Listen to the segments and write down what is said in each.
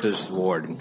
This is Warden.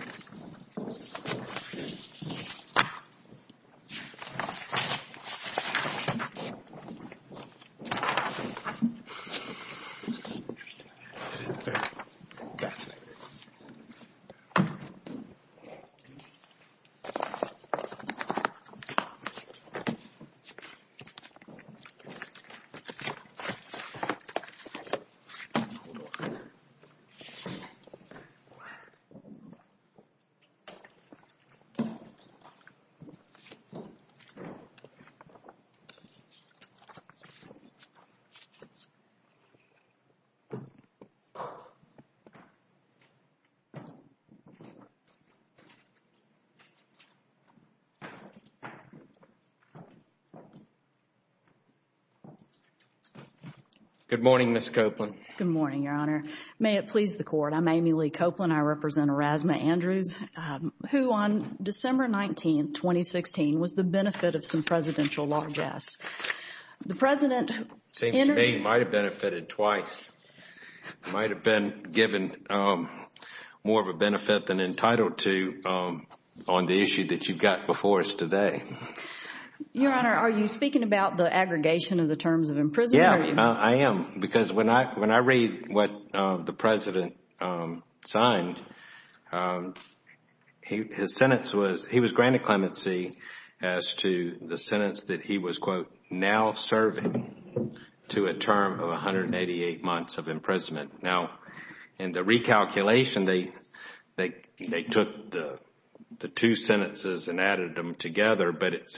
Good morning, Ms. Copeland. Good morning, Your Honor. I am Amy Lee Copeland. I represent Orasama Andrews, who on December 19, 2016, was the benefit of some presidential law guests. The President... Seems to me he might have benefited twice, might have been given more of a benefit than entitled to on the issue that you've got before us today. Your Honor, are you speaking about the aggregation of the terms of imprisonment? Yes, I am. Because when I read what the President signed, his sentence was, he was granted clemency as to the sentence that he was, quote, now serving to a term of 188 months of imprisonment. Now in the recalculation, they took the two sentences and added them together, but it's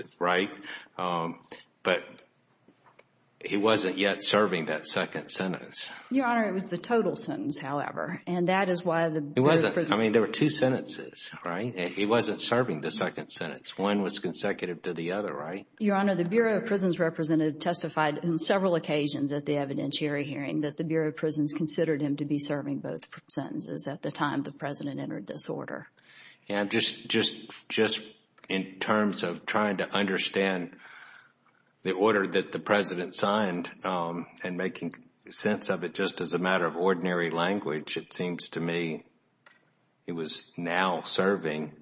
not yet serving that second sentence. Your Honor, it was the total sentence, however. And that is why the Bureau of Prisons... It wasn't. I mean, there were two sentences, right? He wasn't serving the second sentence. One was consecutive to the other, right? Your Honor, the Bureau of Prisons representative testified on several occasions at the evidentiary hearing that the Bureau of Prisons considered him to be serving both sentences at the time the President entered this order. And just in terms of trying to understand the order that the President signed and making sense of it just as a matter of ordinary language, it seems to me he was now serving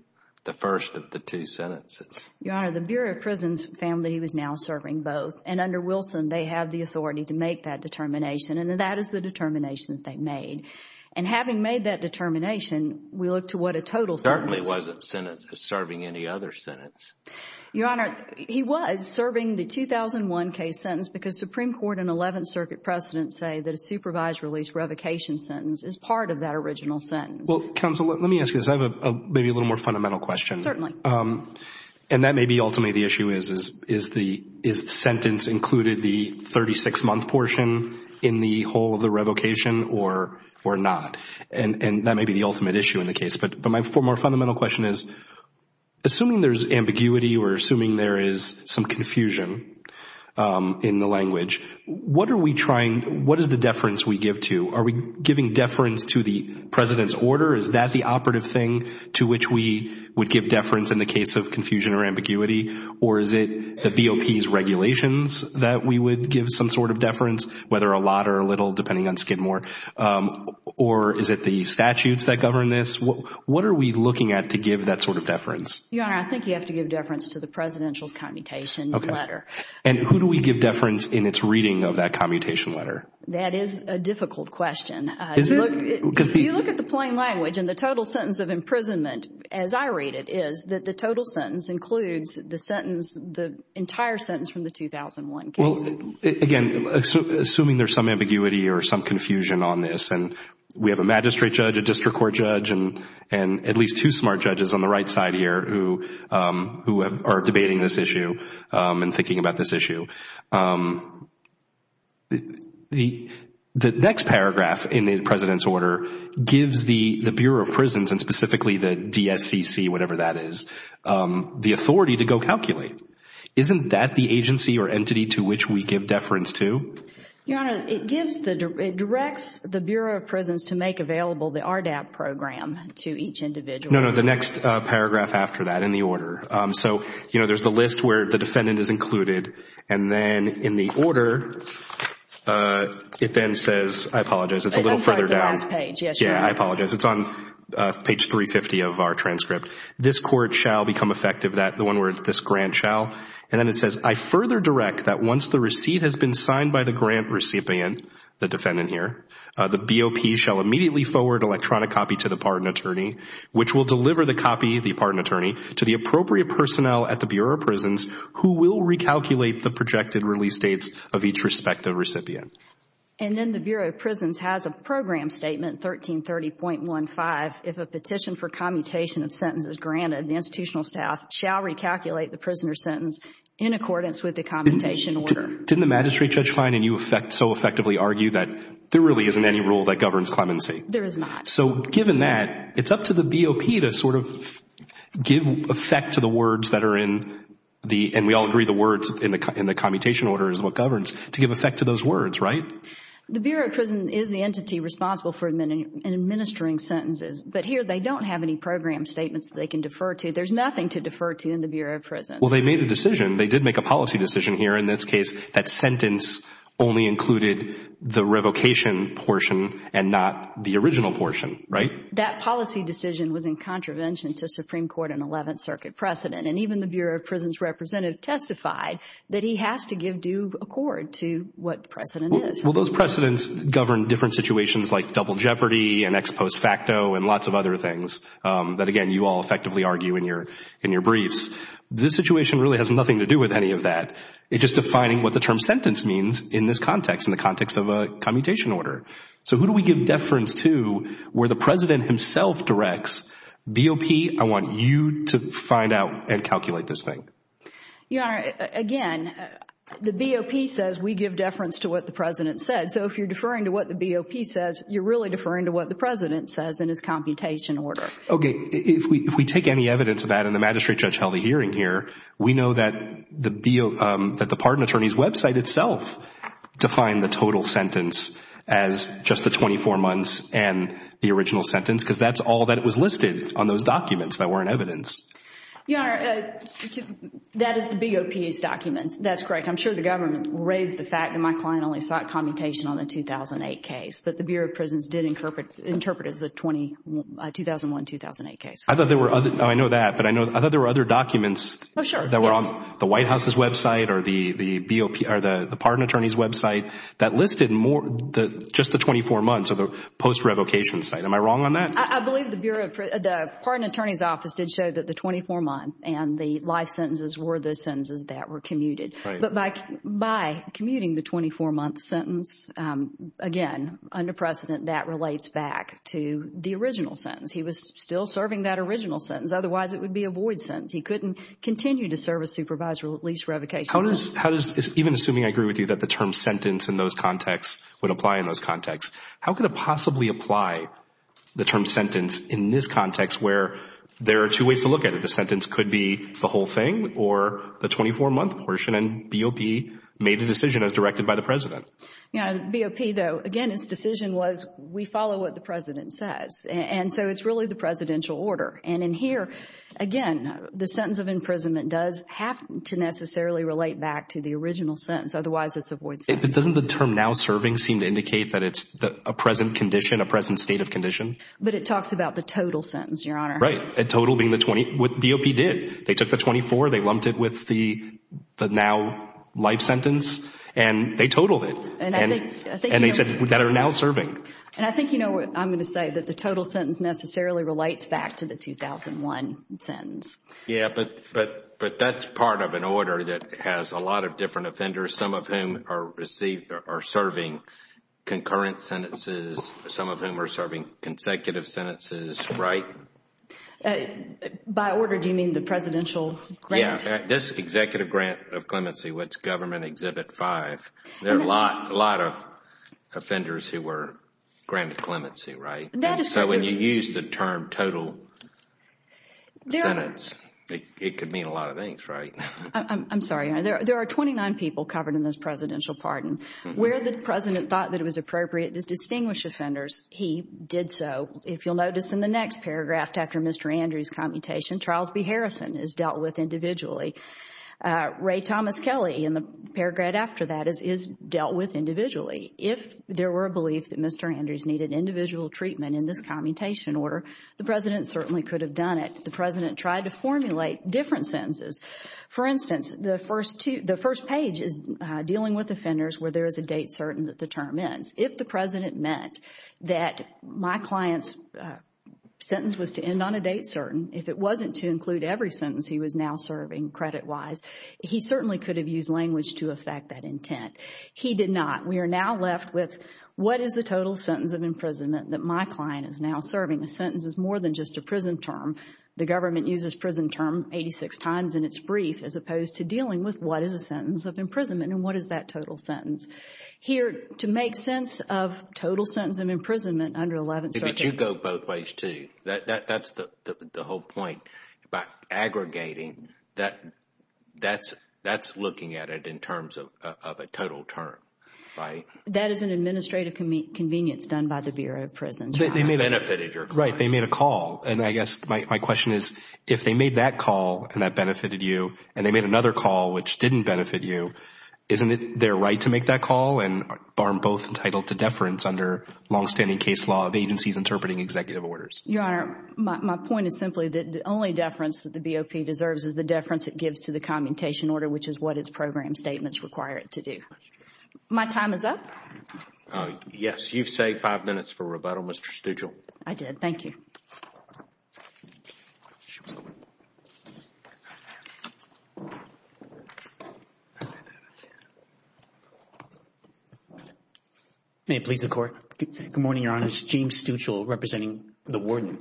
the first of the two sentences. Your Honor, the Bureau of Prisons found that he was now serving both. And under Wilson, they have the authority to make that determination and that is the determination that they made. And having made that determination, we look to what a total sentence... Certainly wasn't serving any other sentence. Your Honor, he was serving the 2001 case sentence because Supreme Court and 11th Circuit precedents say that a supervised release revocation sentence is part of that original sentence. Well, counsel, let me ask you this. I have maybe a little more fundamental question. Certainly. And that may be ultimately the issue is, is the sentence included the 36-month portion in the whole of the revocation or not? And that may be the ultimate issue in the case. But my more fundamental question is, assuming there's ambiguity or assuming there is some confusion in the language, what is the deference we give to? Are we giving deference to the President's order? Is that the operative thing to which we would give deference in the case of confusion or whether a lot or a little, depending on Skidmore, or is it the statutes that govern this? What are we looking at to give that sort of deference? Your Honor, I think you have to give deference to the Presidential's commutation letter. And who do we give deference in its reading of that commutation letter? That is a difficult question. Is it? Because if you look at the plain language and the total sentence of imprisonment, as I read it, is that the total sentence includes the sentence, the entire sentence from the 2001 case. Well, again, assuming there's some ambiguity or some confusion on this, and we have a magistrate judge, a district court judge, and at least two smart judges on the right side here who are debating this issue and thinking about this issue, the next paragraph in the President's order gives the Bureau of Prisons and specifically the DSCC, whatever that is, the authority to go calculate. Isn't that the agency or entity to which we give deference to? Your Honor, it directs the Bureau of Prisons to make available the RDAP program to each individual. No, no, the next paragraph after that in the order. So there's the list where the defendant is included, and then in the order, it then says, I apologize, it's a little further down. It comes right to the last page. Yes, you're right. Yeah, I apologize. It's on page 350 of our transcript. This court shall become effective, the one where this grant shall, and then it says, I further direct that once the receipt has been signed by the grant recipient, the defendant here, the BOP shall immediately forward electronic copy to the pardon attorney, which will deliver the copy, the pardon attorney, to the appropriate personnel at the Bureau of Prisons who will recalculate the projected release dates of each respective recipient. And then the Bureau of Prisons has a program statement, 1330.15, if a petition for commutation of sentence is granted, the institutional staff shall recalculate the prisoner's sentence in accordance with the commutation order. Didn't the magistrate, Judge Kline, and you so effectively argue that there really isn't any rule that governs clemency? There is not. So given that, it's up to the BOP to sort of give effect to the words that are in the, and we all agree the words in the commutation order is what governs, to give effect to those words, right? The Bureau of Prisons is the entity responsible for administering sentences, but here they don't have any program statements that they can defer to. There's nothing to defer to in the Bureau of Prisons. Well, they made the decision. They did make a policy decision here in this case. That sentence only included the revocation portion and not the original portion, right? That policy decision was in contravention to Supreme Court and Eleventh Circuit precedent, and even the Bureau of Prisons representative testified that he has to give due accord to what precedent is. Well, those precedents govern different situations like double jeopardy and ex post facto and things that, again, you all effectively argue in your briefs. This situation really has nothing to do with any of that. It's just defining what the term sentence means in this context, in the context of a commutation order. So who do we give deference to where the President himself directs, BOP, I want you to find out and calculate this thing? Your Honor, again, the BOP says we give deference to what the President said. So if you're deferring to what the BOP says, you're really deferring to what the President says in his commutation order. Okay. If we take any evidence of that and the magistrate judge held a hearing here, we know that the pardon attorney's website itself defined the total sentence as just the 24 months and the original sentence, because that's all that was listed on those documents that weren't evidence. Your Honor, that is the BOP's documents. That's correct. I'm sure the government raised the fact that my client only sought commutation on the 2008 case, but the Bureau of Prisons did interpret it as the 2001-2008 case. I know that, but I thought there were other documents that were on the White House's website or the pardon attorney's website that listed just the 24 months of the post-revocation site. Am I wrong on that? I believe the pardon attorney's office did show that the 24 months and the life sentences were the sentences that were commuted. But by commuting the 24-month sentence, again, under precedent, that relates back to the original sentence. He was still serving that original sentence. Otherwise, it would be a void sentence. He couldn't continue to serve a supervised or at least revocation sentence. Even assuming I agree with you that the term sentence in those contexts would apply in those contexts, how could it possibly apply the term sentence in this context where there are two ways to look at it? The sentence could be the whole thing or the 24-month portion, and BOP made the decision as directed by the President. Yeah, BOP, though, again, its decision was we follow what the President says. And so it's really the presidential order. And in here, again, the sentence of imprisonment does have to necessarily relate back to the original sentence. Otherwise, it's a void sentence. Doesn't the term now serving seem to indicate that it's a present condition, a present state of condition? But it talks about the total sentence, Your Honor. Right. A total being the 20, what BOP did, they took the 24, they lumped it with the now life sentence, and they totaled it. And they said that are now serving. And I think you know what I'm going to say, that the total sentence necessarily relates back to the 2001 sentence. Yeah, but that's part of an order that has a lot of different offenders, some of whom are serving concurrent sentences, some of whom are serving consecutive sentences, right? By order, do you mean the presidential grant? Yeah, this executive grant of clemency, which government exhibit five, there are a lot of offenders who were granted clemency, right? So when you use the term total sentence, it could mean a lot of things, right? I'm sorry, Your Honor. There are 29 people covered in this presidential pardon. Where the President thought that it was appropriate to distinguish offenders, he did so. If you'll notice in the next paragraph after Mr. Andrews' commutation, Charles B. Harrison is dealt with individually. Ray Thomas Kelly in the paragraph after that is dealt with individually. If there were a belief that Mr. Andrews needed individual treatment in this commutation order, the President certainly could have done it. The President tried to formulate different sentences. For instance, the first page is dealing with offenders where there is a date certain that the term ends. If the President meant that my client's sentence was to end on a date certain, if it wasn't to include every sentence he was now serving credit-wise, he certainly could have used language to affect that intent. He did not. We are now left with what is the total sentence of imprisonment that my client is now serving. A sentence is more than just a prison term. The government uses prison term 86 times in its brief as opposed to dealing with what is a sentence of imprisonment and what is that total sentence. Here, to make sense of total sentence of imprisonment under 11th Circuit... But you go both ways too. That's the whole point. By aggregating, that's looking at it in terms of a total term. That is an administrative convenience done by the Bureau of Prisons. They may have benefited your client. Right. They made a call. I guess my question is if they made that call and that benefited you and they made another call which didn't benefit you, isn't it their right to make that call and aren't both entitled to deference under long-standing case law of agencies interpreting executive orders? Your Honor, my point is simply that the only deference that the BOP deserves is the deference it gives to the commutation order, which is what its program statements require it to do. My time is up. Yes. You've saved five minutes for rebuttal, Mr. Stugall. I did. Thank you. May it please the Court. Good morning, Your Honor. It's James Stuchel representing the Warden.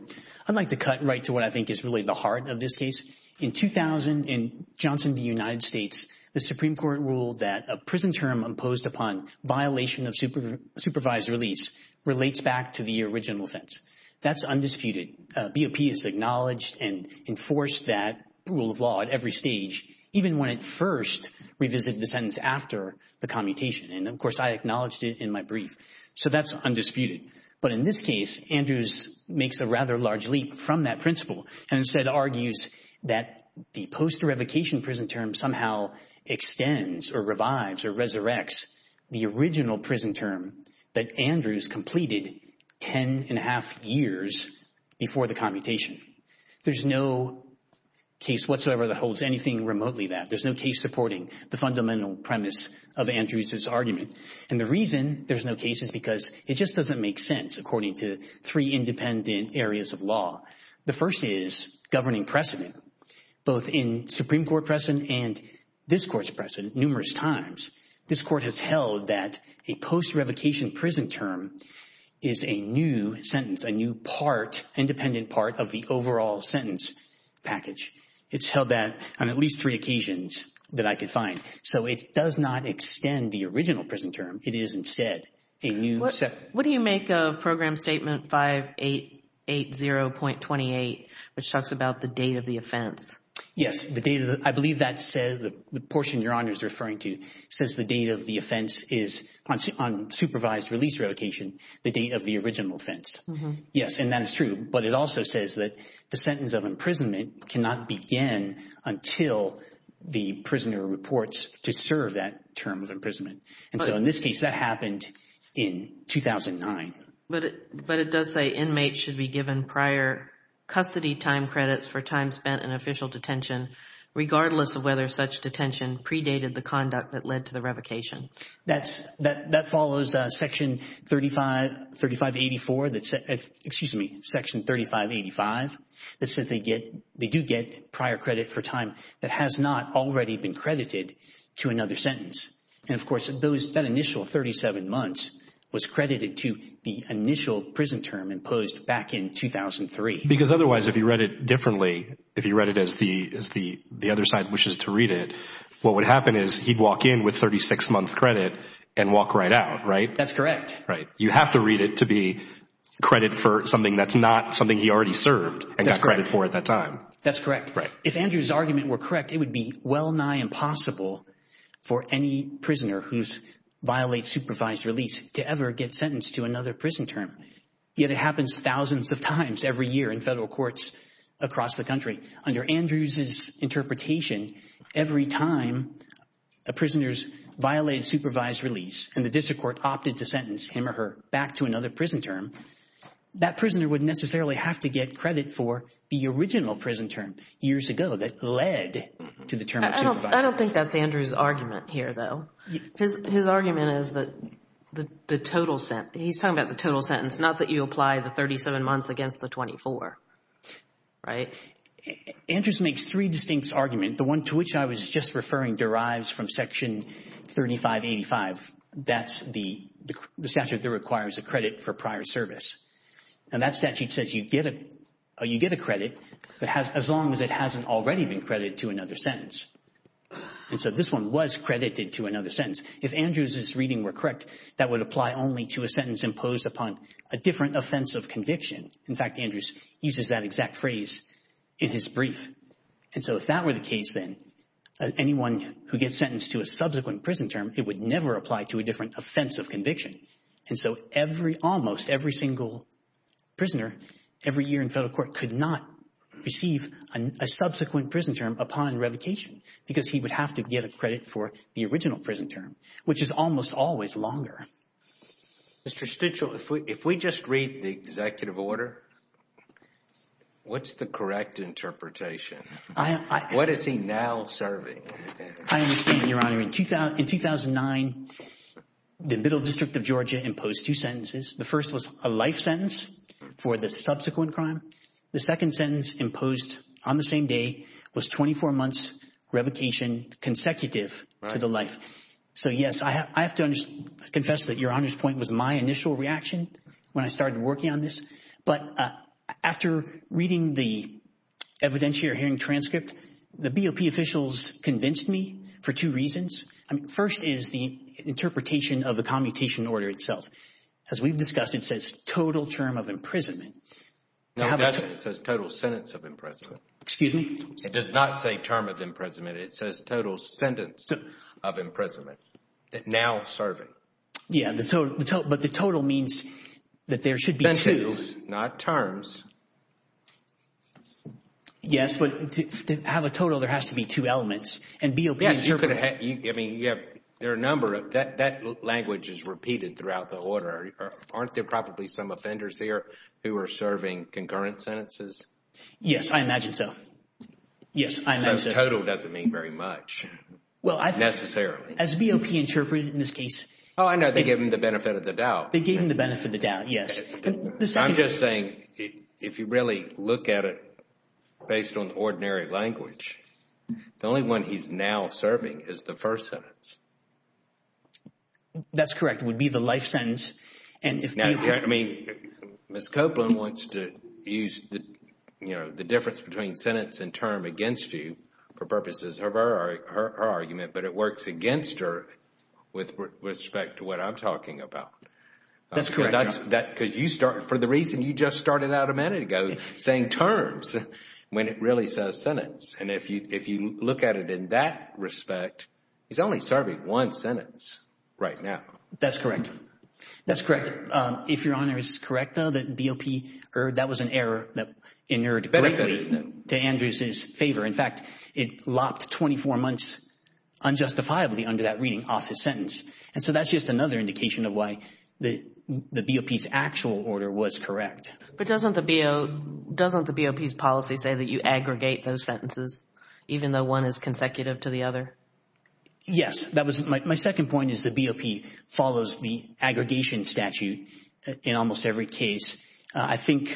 I'd like to cut right to what I think is really the heart of this case. In 2000 in Johnson v. United States, the Supreme Court ruled that a prison term imposed upon violation of supervised release relates back to the original offense. That's undisputed. BOP has acknowledged and enforced that rule of law at every stage, even when it first revisited the sentence after the commutation, and of course I acknowledged it in my brief. So that's undisputed. But in this case, Andrews makes a rather large leap from that principle and instead argues that the post-revocation prison term somehow extends or revives or resurrects the original prison term that Andrews completed ten and a half years before the commutation. There's no case whatsoever that holds anything remotely that. There's no case supporting the fundamental premise of Andrews' argument. And the reason there's no case is because it just doesn't make sense according to three independent areas of law. The first is governing precedent, both in Supreme Court precedent and this Court's precedent numerous times. This Court has held that a post-revocation prison term is a new sentence, a new part, independent part of the overall sentence package. It's held that on at least three occasions that I could find. So it does not extend the original prison term. It is instead a new sentence. What do you make of Program Statement 5880.28, which talks about the date of the offense? Yes. I believe that says, the portion Your Honor is referring to says the date of the offense is on supervised release revocation, the date of the original offense. Yes, and that is true. But it also says that the sentence of imprisonment cannot begin until the prisoner reports to serve that term of imprisonment. And so in this case, that happened in 2009. But it does say inmates should be given prior custody time credits for time spent in official detention, regardless of whether such detention predated the conduct that led to the revocation. That follows Section 3585, that says they do get prior credit for time that has not already been credited to another sentence. And of course, that initial 37 months was credited to the initial prison term imposed back in 2003. Because otherwise, if you read it differently, if you read it as the other side wishes to read it, what would happen is he'd walk in with 36 month credit and walk right out, right? That's correct. Right. You have to read it to be credit for something that's not something he already served and got credit for at that time. That's correct. Right. If Andrew's argument were correct, it would be well nigh impossible for any prisoner who violates supervised release to ever get sentenced to another prison term, yet it happens thousands of times every year in federal courts across the country. Under Andrew's interpretation, every time a prisoner violates supervised release and the district court opted to sentence him or her back to another prison term, that prisoner wouldn't necessarily have to get credit for the original prison term years ago that led to the term of supervised release. I don't think that's Andrew's argument here, though. His argument is that the total sentence, he's talking about the total sentence, not that you apply the 37 months against the 24, right? Andrews makes three distinct arguments. The one to which I was just referring derives from Section 3585. That's the statute that requires a credit for prior service. And that statute says you get a credit as long as it hasn't already been credited to another sentence. And so this one was credited to another sentence. If Andrews's reading were correct, that would apply only to a sentence imposed upon a different offense of conviction. In fact, Andrews uses that exact phrase in his brief. And so if that were the case, then anyone who gets sentenced to a subsequent prison term, it would never apply to a different offense of conviction. And so every, almost every single prisoner every year in federal court could not receive a subsequent prison term upon revocation because he would have to get a credit for the original prison term, which is almost always longer. Mr. Stitchell, if we just read the executive order, what's the correct interpretation? What is he now serving? I understand, Your Honor. In 2009, the Middle District of Georgia imposed two sentences. The first was a life sentence for the subsequent crime. The second sentence imposed on the same day was 24 months revocation consecutive to the life. So, yes, I have to confess that Your Honor's point was my initial reaction when I started working on this. But after reading the evidentiary hearing transcript, the BOP officials convinced me for two reasons. I mean, first is the interpretation of the commutation order itself. As we've discussed, it says total term of imprisonment. No, it doesn't. It says total sentence of imprisonment. Excuse me? It does not say term of imprisonment. It says total sentence of imprisonment. Now serving. Yes, but the total means that there should be two. Sentences, not terms. Yes, but to have a total, there has to be two elements. And BOP is your... Yes, you could have... I mean, you have... There are a number of... That language is repeated throughout the order. Aren't there probably some offenders here who are serving concurrent sentences? Yes, I imagine so. Yes, I imagine so. Total doesn't mean very much, necessarily. As BOP interpreted in this case... Oh, I know. They gave him the benefit of the doubt. They gave him the benefit of the doubt, yes. I'm just saying, if you really look at it based on ordinary language, the only one he's now serving is the first sentence. That's correct. It would be the life sentence. And if BOP... Now, I mean, Ms. Copeland wants to use, you know, the difference between sentence and for purposes of her argument, but it works against her with respect to what I'm talking about. That's correct. Because you start, for the reason you just started out a minute ago, saying terms when it really says sentence. And if you look at it in that respect, he's only serving one sentence right now. That's correct. That's correct. If Your Honor is correct, though, that BOP, that was an error that inured greatly to Andrews's favor. In fact, it lopped 24 months unjustifiably under that reading off his sentence. And so that's just another indication of why the BOP's actual order was correct. But doesn't the BOP's policy say that you aggregate those sentences even though one is consecutive to the other? Yes. That was my second point is the BOP follows the aggregation statute in almost every case. I think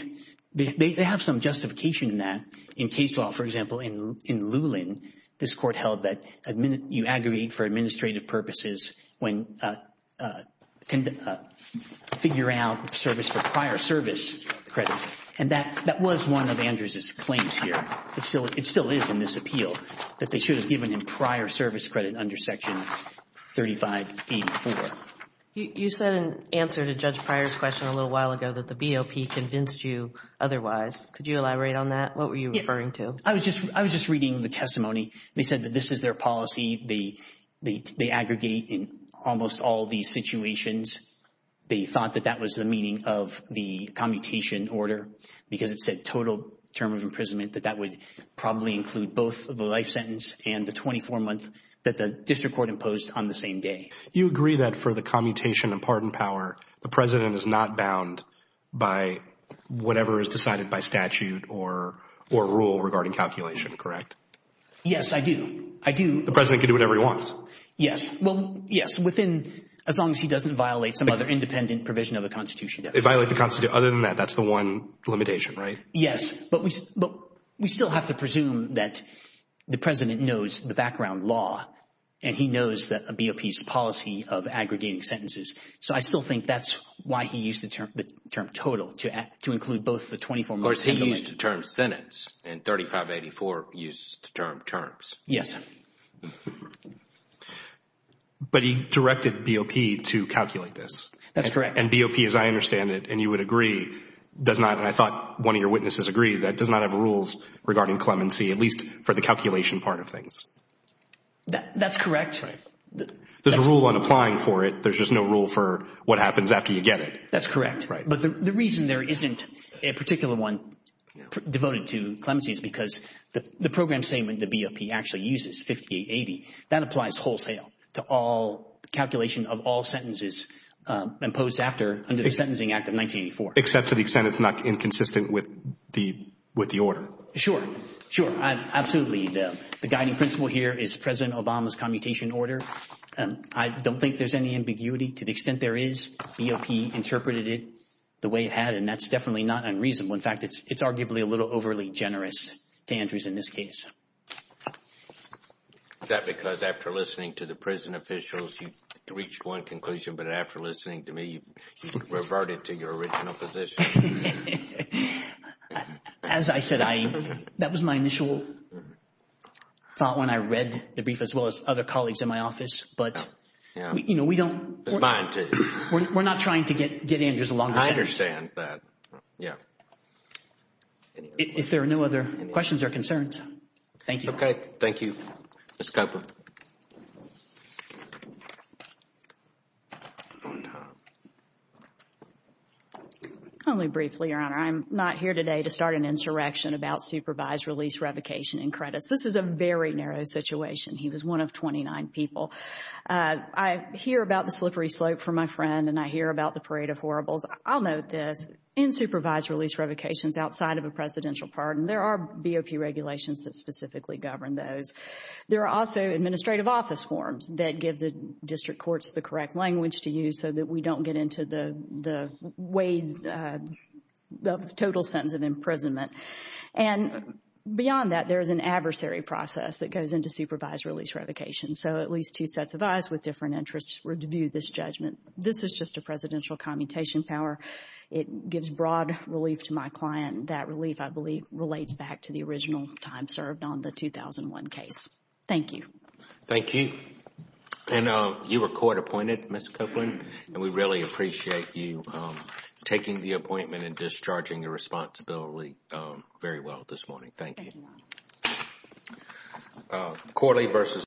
they have some justification in that. For example, in Lulin, this court held that you aggregate for administrative purposes when figure out service for prior service credit. And that was one of Andrews's claims here. It still is in this appeal that they should have given him prior service credit under Section 3584. You said in answer to Judge Pryor's question a little while ago that the BOP convinced you otherwise. Could you elaborate on that? What were you referring to? I was just reading the testimony. They said that this is their policy. They aggregate in almost all these situations. They thought that that was the meaning of the commutation order because it said total term of imprisonment, that that would probably include both the life sentence and the 24 month that the district court imposed on the same day. You agree that for the commutation and pardon power, the president is not bound by whatever is decided by statute or rule regarding calculation, correct? Yes, I do. I do. The president can do whatever he wants? Yes. Well, yes, within, as long as he doesn't violate some other independent provision of the Constitution. They violate the Constitution. Other than that, that's the one limitation, right? Yes. But we still have to presume that the president knows the background law and he knows that a BOP's policy of aggregating sentences. So I still think that's why he used the term total to include both the 24 month and the life sentence. Of course, he used the term sentence and 3584 used the term terms. Yes. But he directed BOP to calculate this. That's correct. And BOP, as I understand it, and you would agree, does not, and I thought one of your witnesses agreed, that does not have rules regarding clemency, at least for the calculation part of things. That's correct. Right. There's a rule on applying for it. There's just no rule for what happens after you get it. That's correct. Right. But the reason there isn't a particular one devoted to clemency is because the program statement that BOP actually uses, 5880, that applies wholesale to all calculation of all sentences imposed after, under the Sentencing Act of 1984. Except to the extent it's not inconsistent with the order. Sure. Sure. Absolutely. The guiding principle here is President Obama's commutation order. I don't think there's any ambiguity. To the extent there is, BOP interpreted it the way it had, and that's definitely not unreasonable. In fact, it's arguably a little overly generous to Andrews in this case. Is that because after listening to the prison officials, you reached one conclusion, but after listening to me, you reverted to your original position? As I said, that was my initial thought when I read the brief, as well as other colleagues in my office. But, you know, we don't, we're not trying to get Andrews a longer sentence. I understand that. Yeah. If there are no other questions or concerns, thank you. Okay. Thank you. Ms. Kupfer. Only briefly, Your Honor, I'm not here today to start an insurrection about supervised release revocation in credits. This is a very narrow situation. He was one of 29 people. I hear about the slippery slope for my friend, and I hear about the parade of horribles. I'll note this. In supervised release revocations outside of a presidential pardon, there are BOP regulations that specifically govern those. There are also administrative office forms that give the district courts the correct language to use so that we don't get into the total sentence of imprisonment. And beyond that, there is an adversary process that goes into supervised release revocation. So at least two sets of eyes with different interests were to view this judgment. This is just a presidential commutation power. It gives broad relief to my client. That relief, I believe, relates back to the original time served on the 2001 case. Thank you. Thank you. And you were court appointed, Ms. Kupfer, and we really appreciate you taking the appointment and discharging your responsibility very well this morning. Thank you. Thank you, Ron.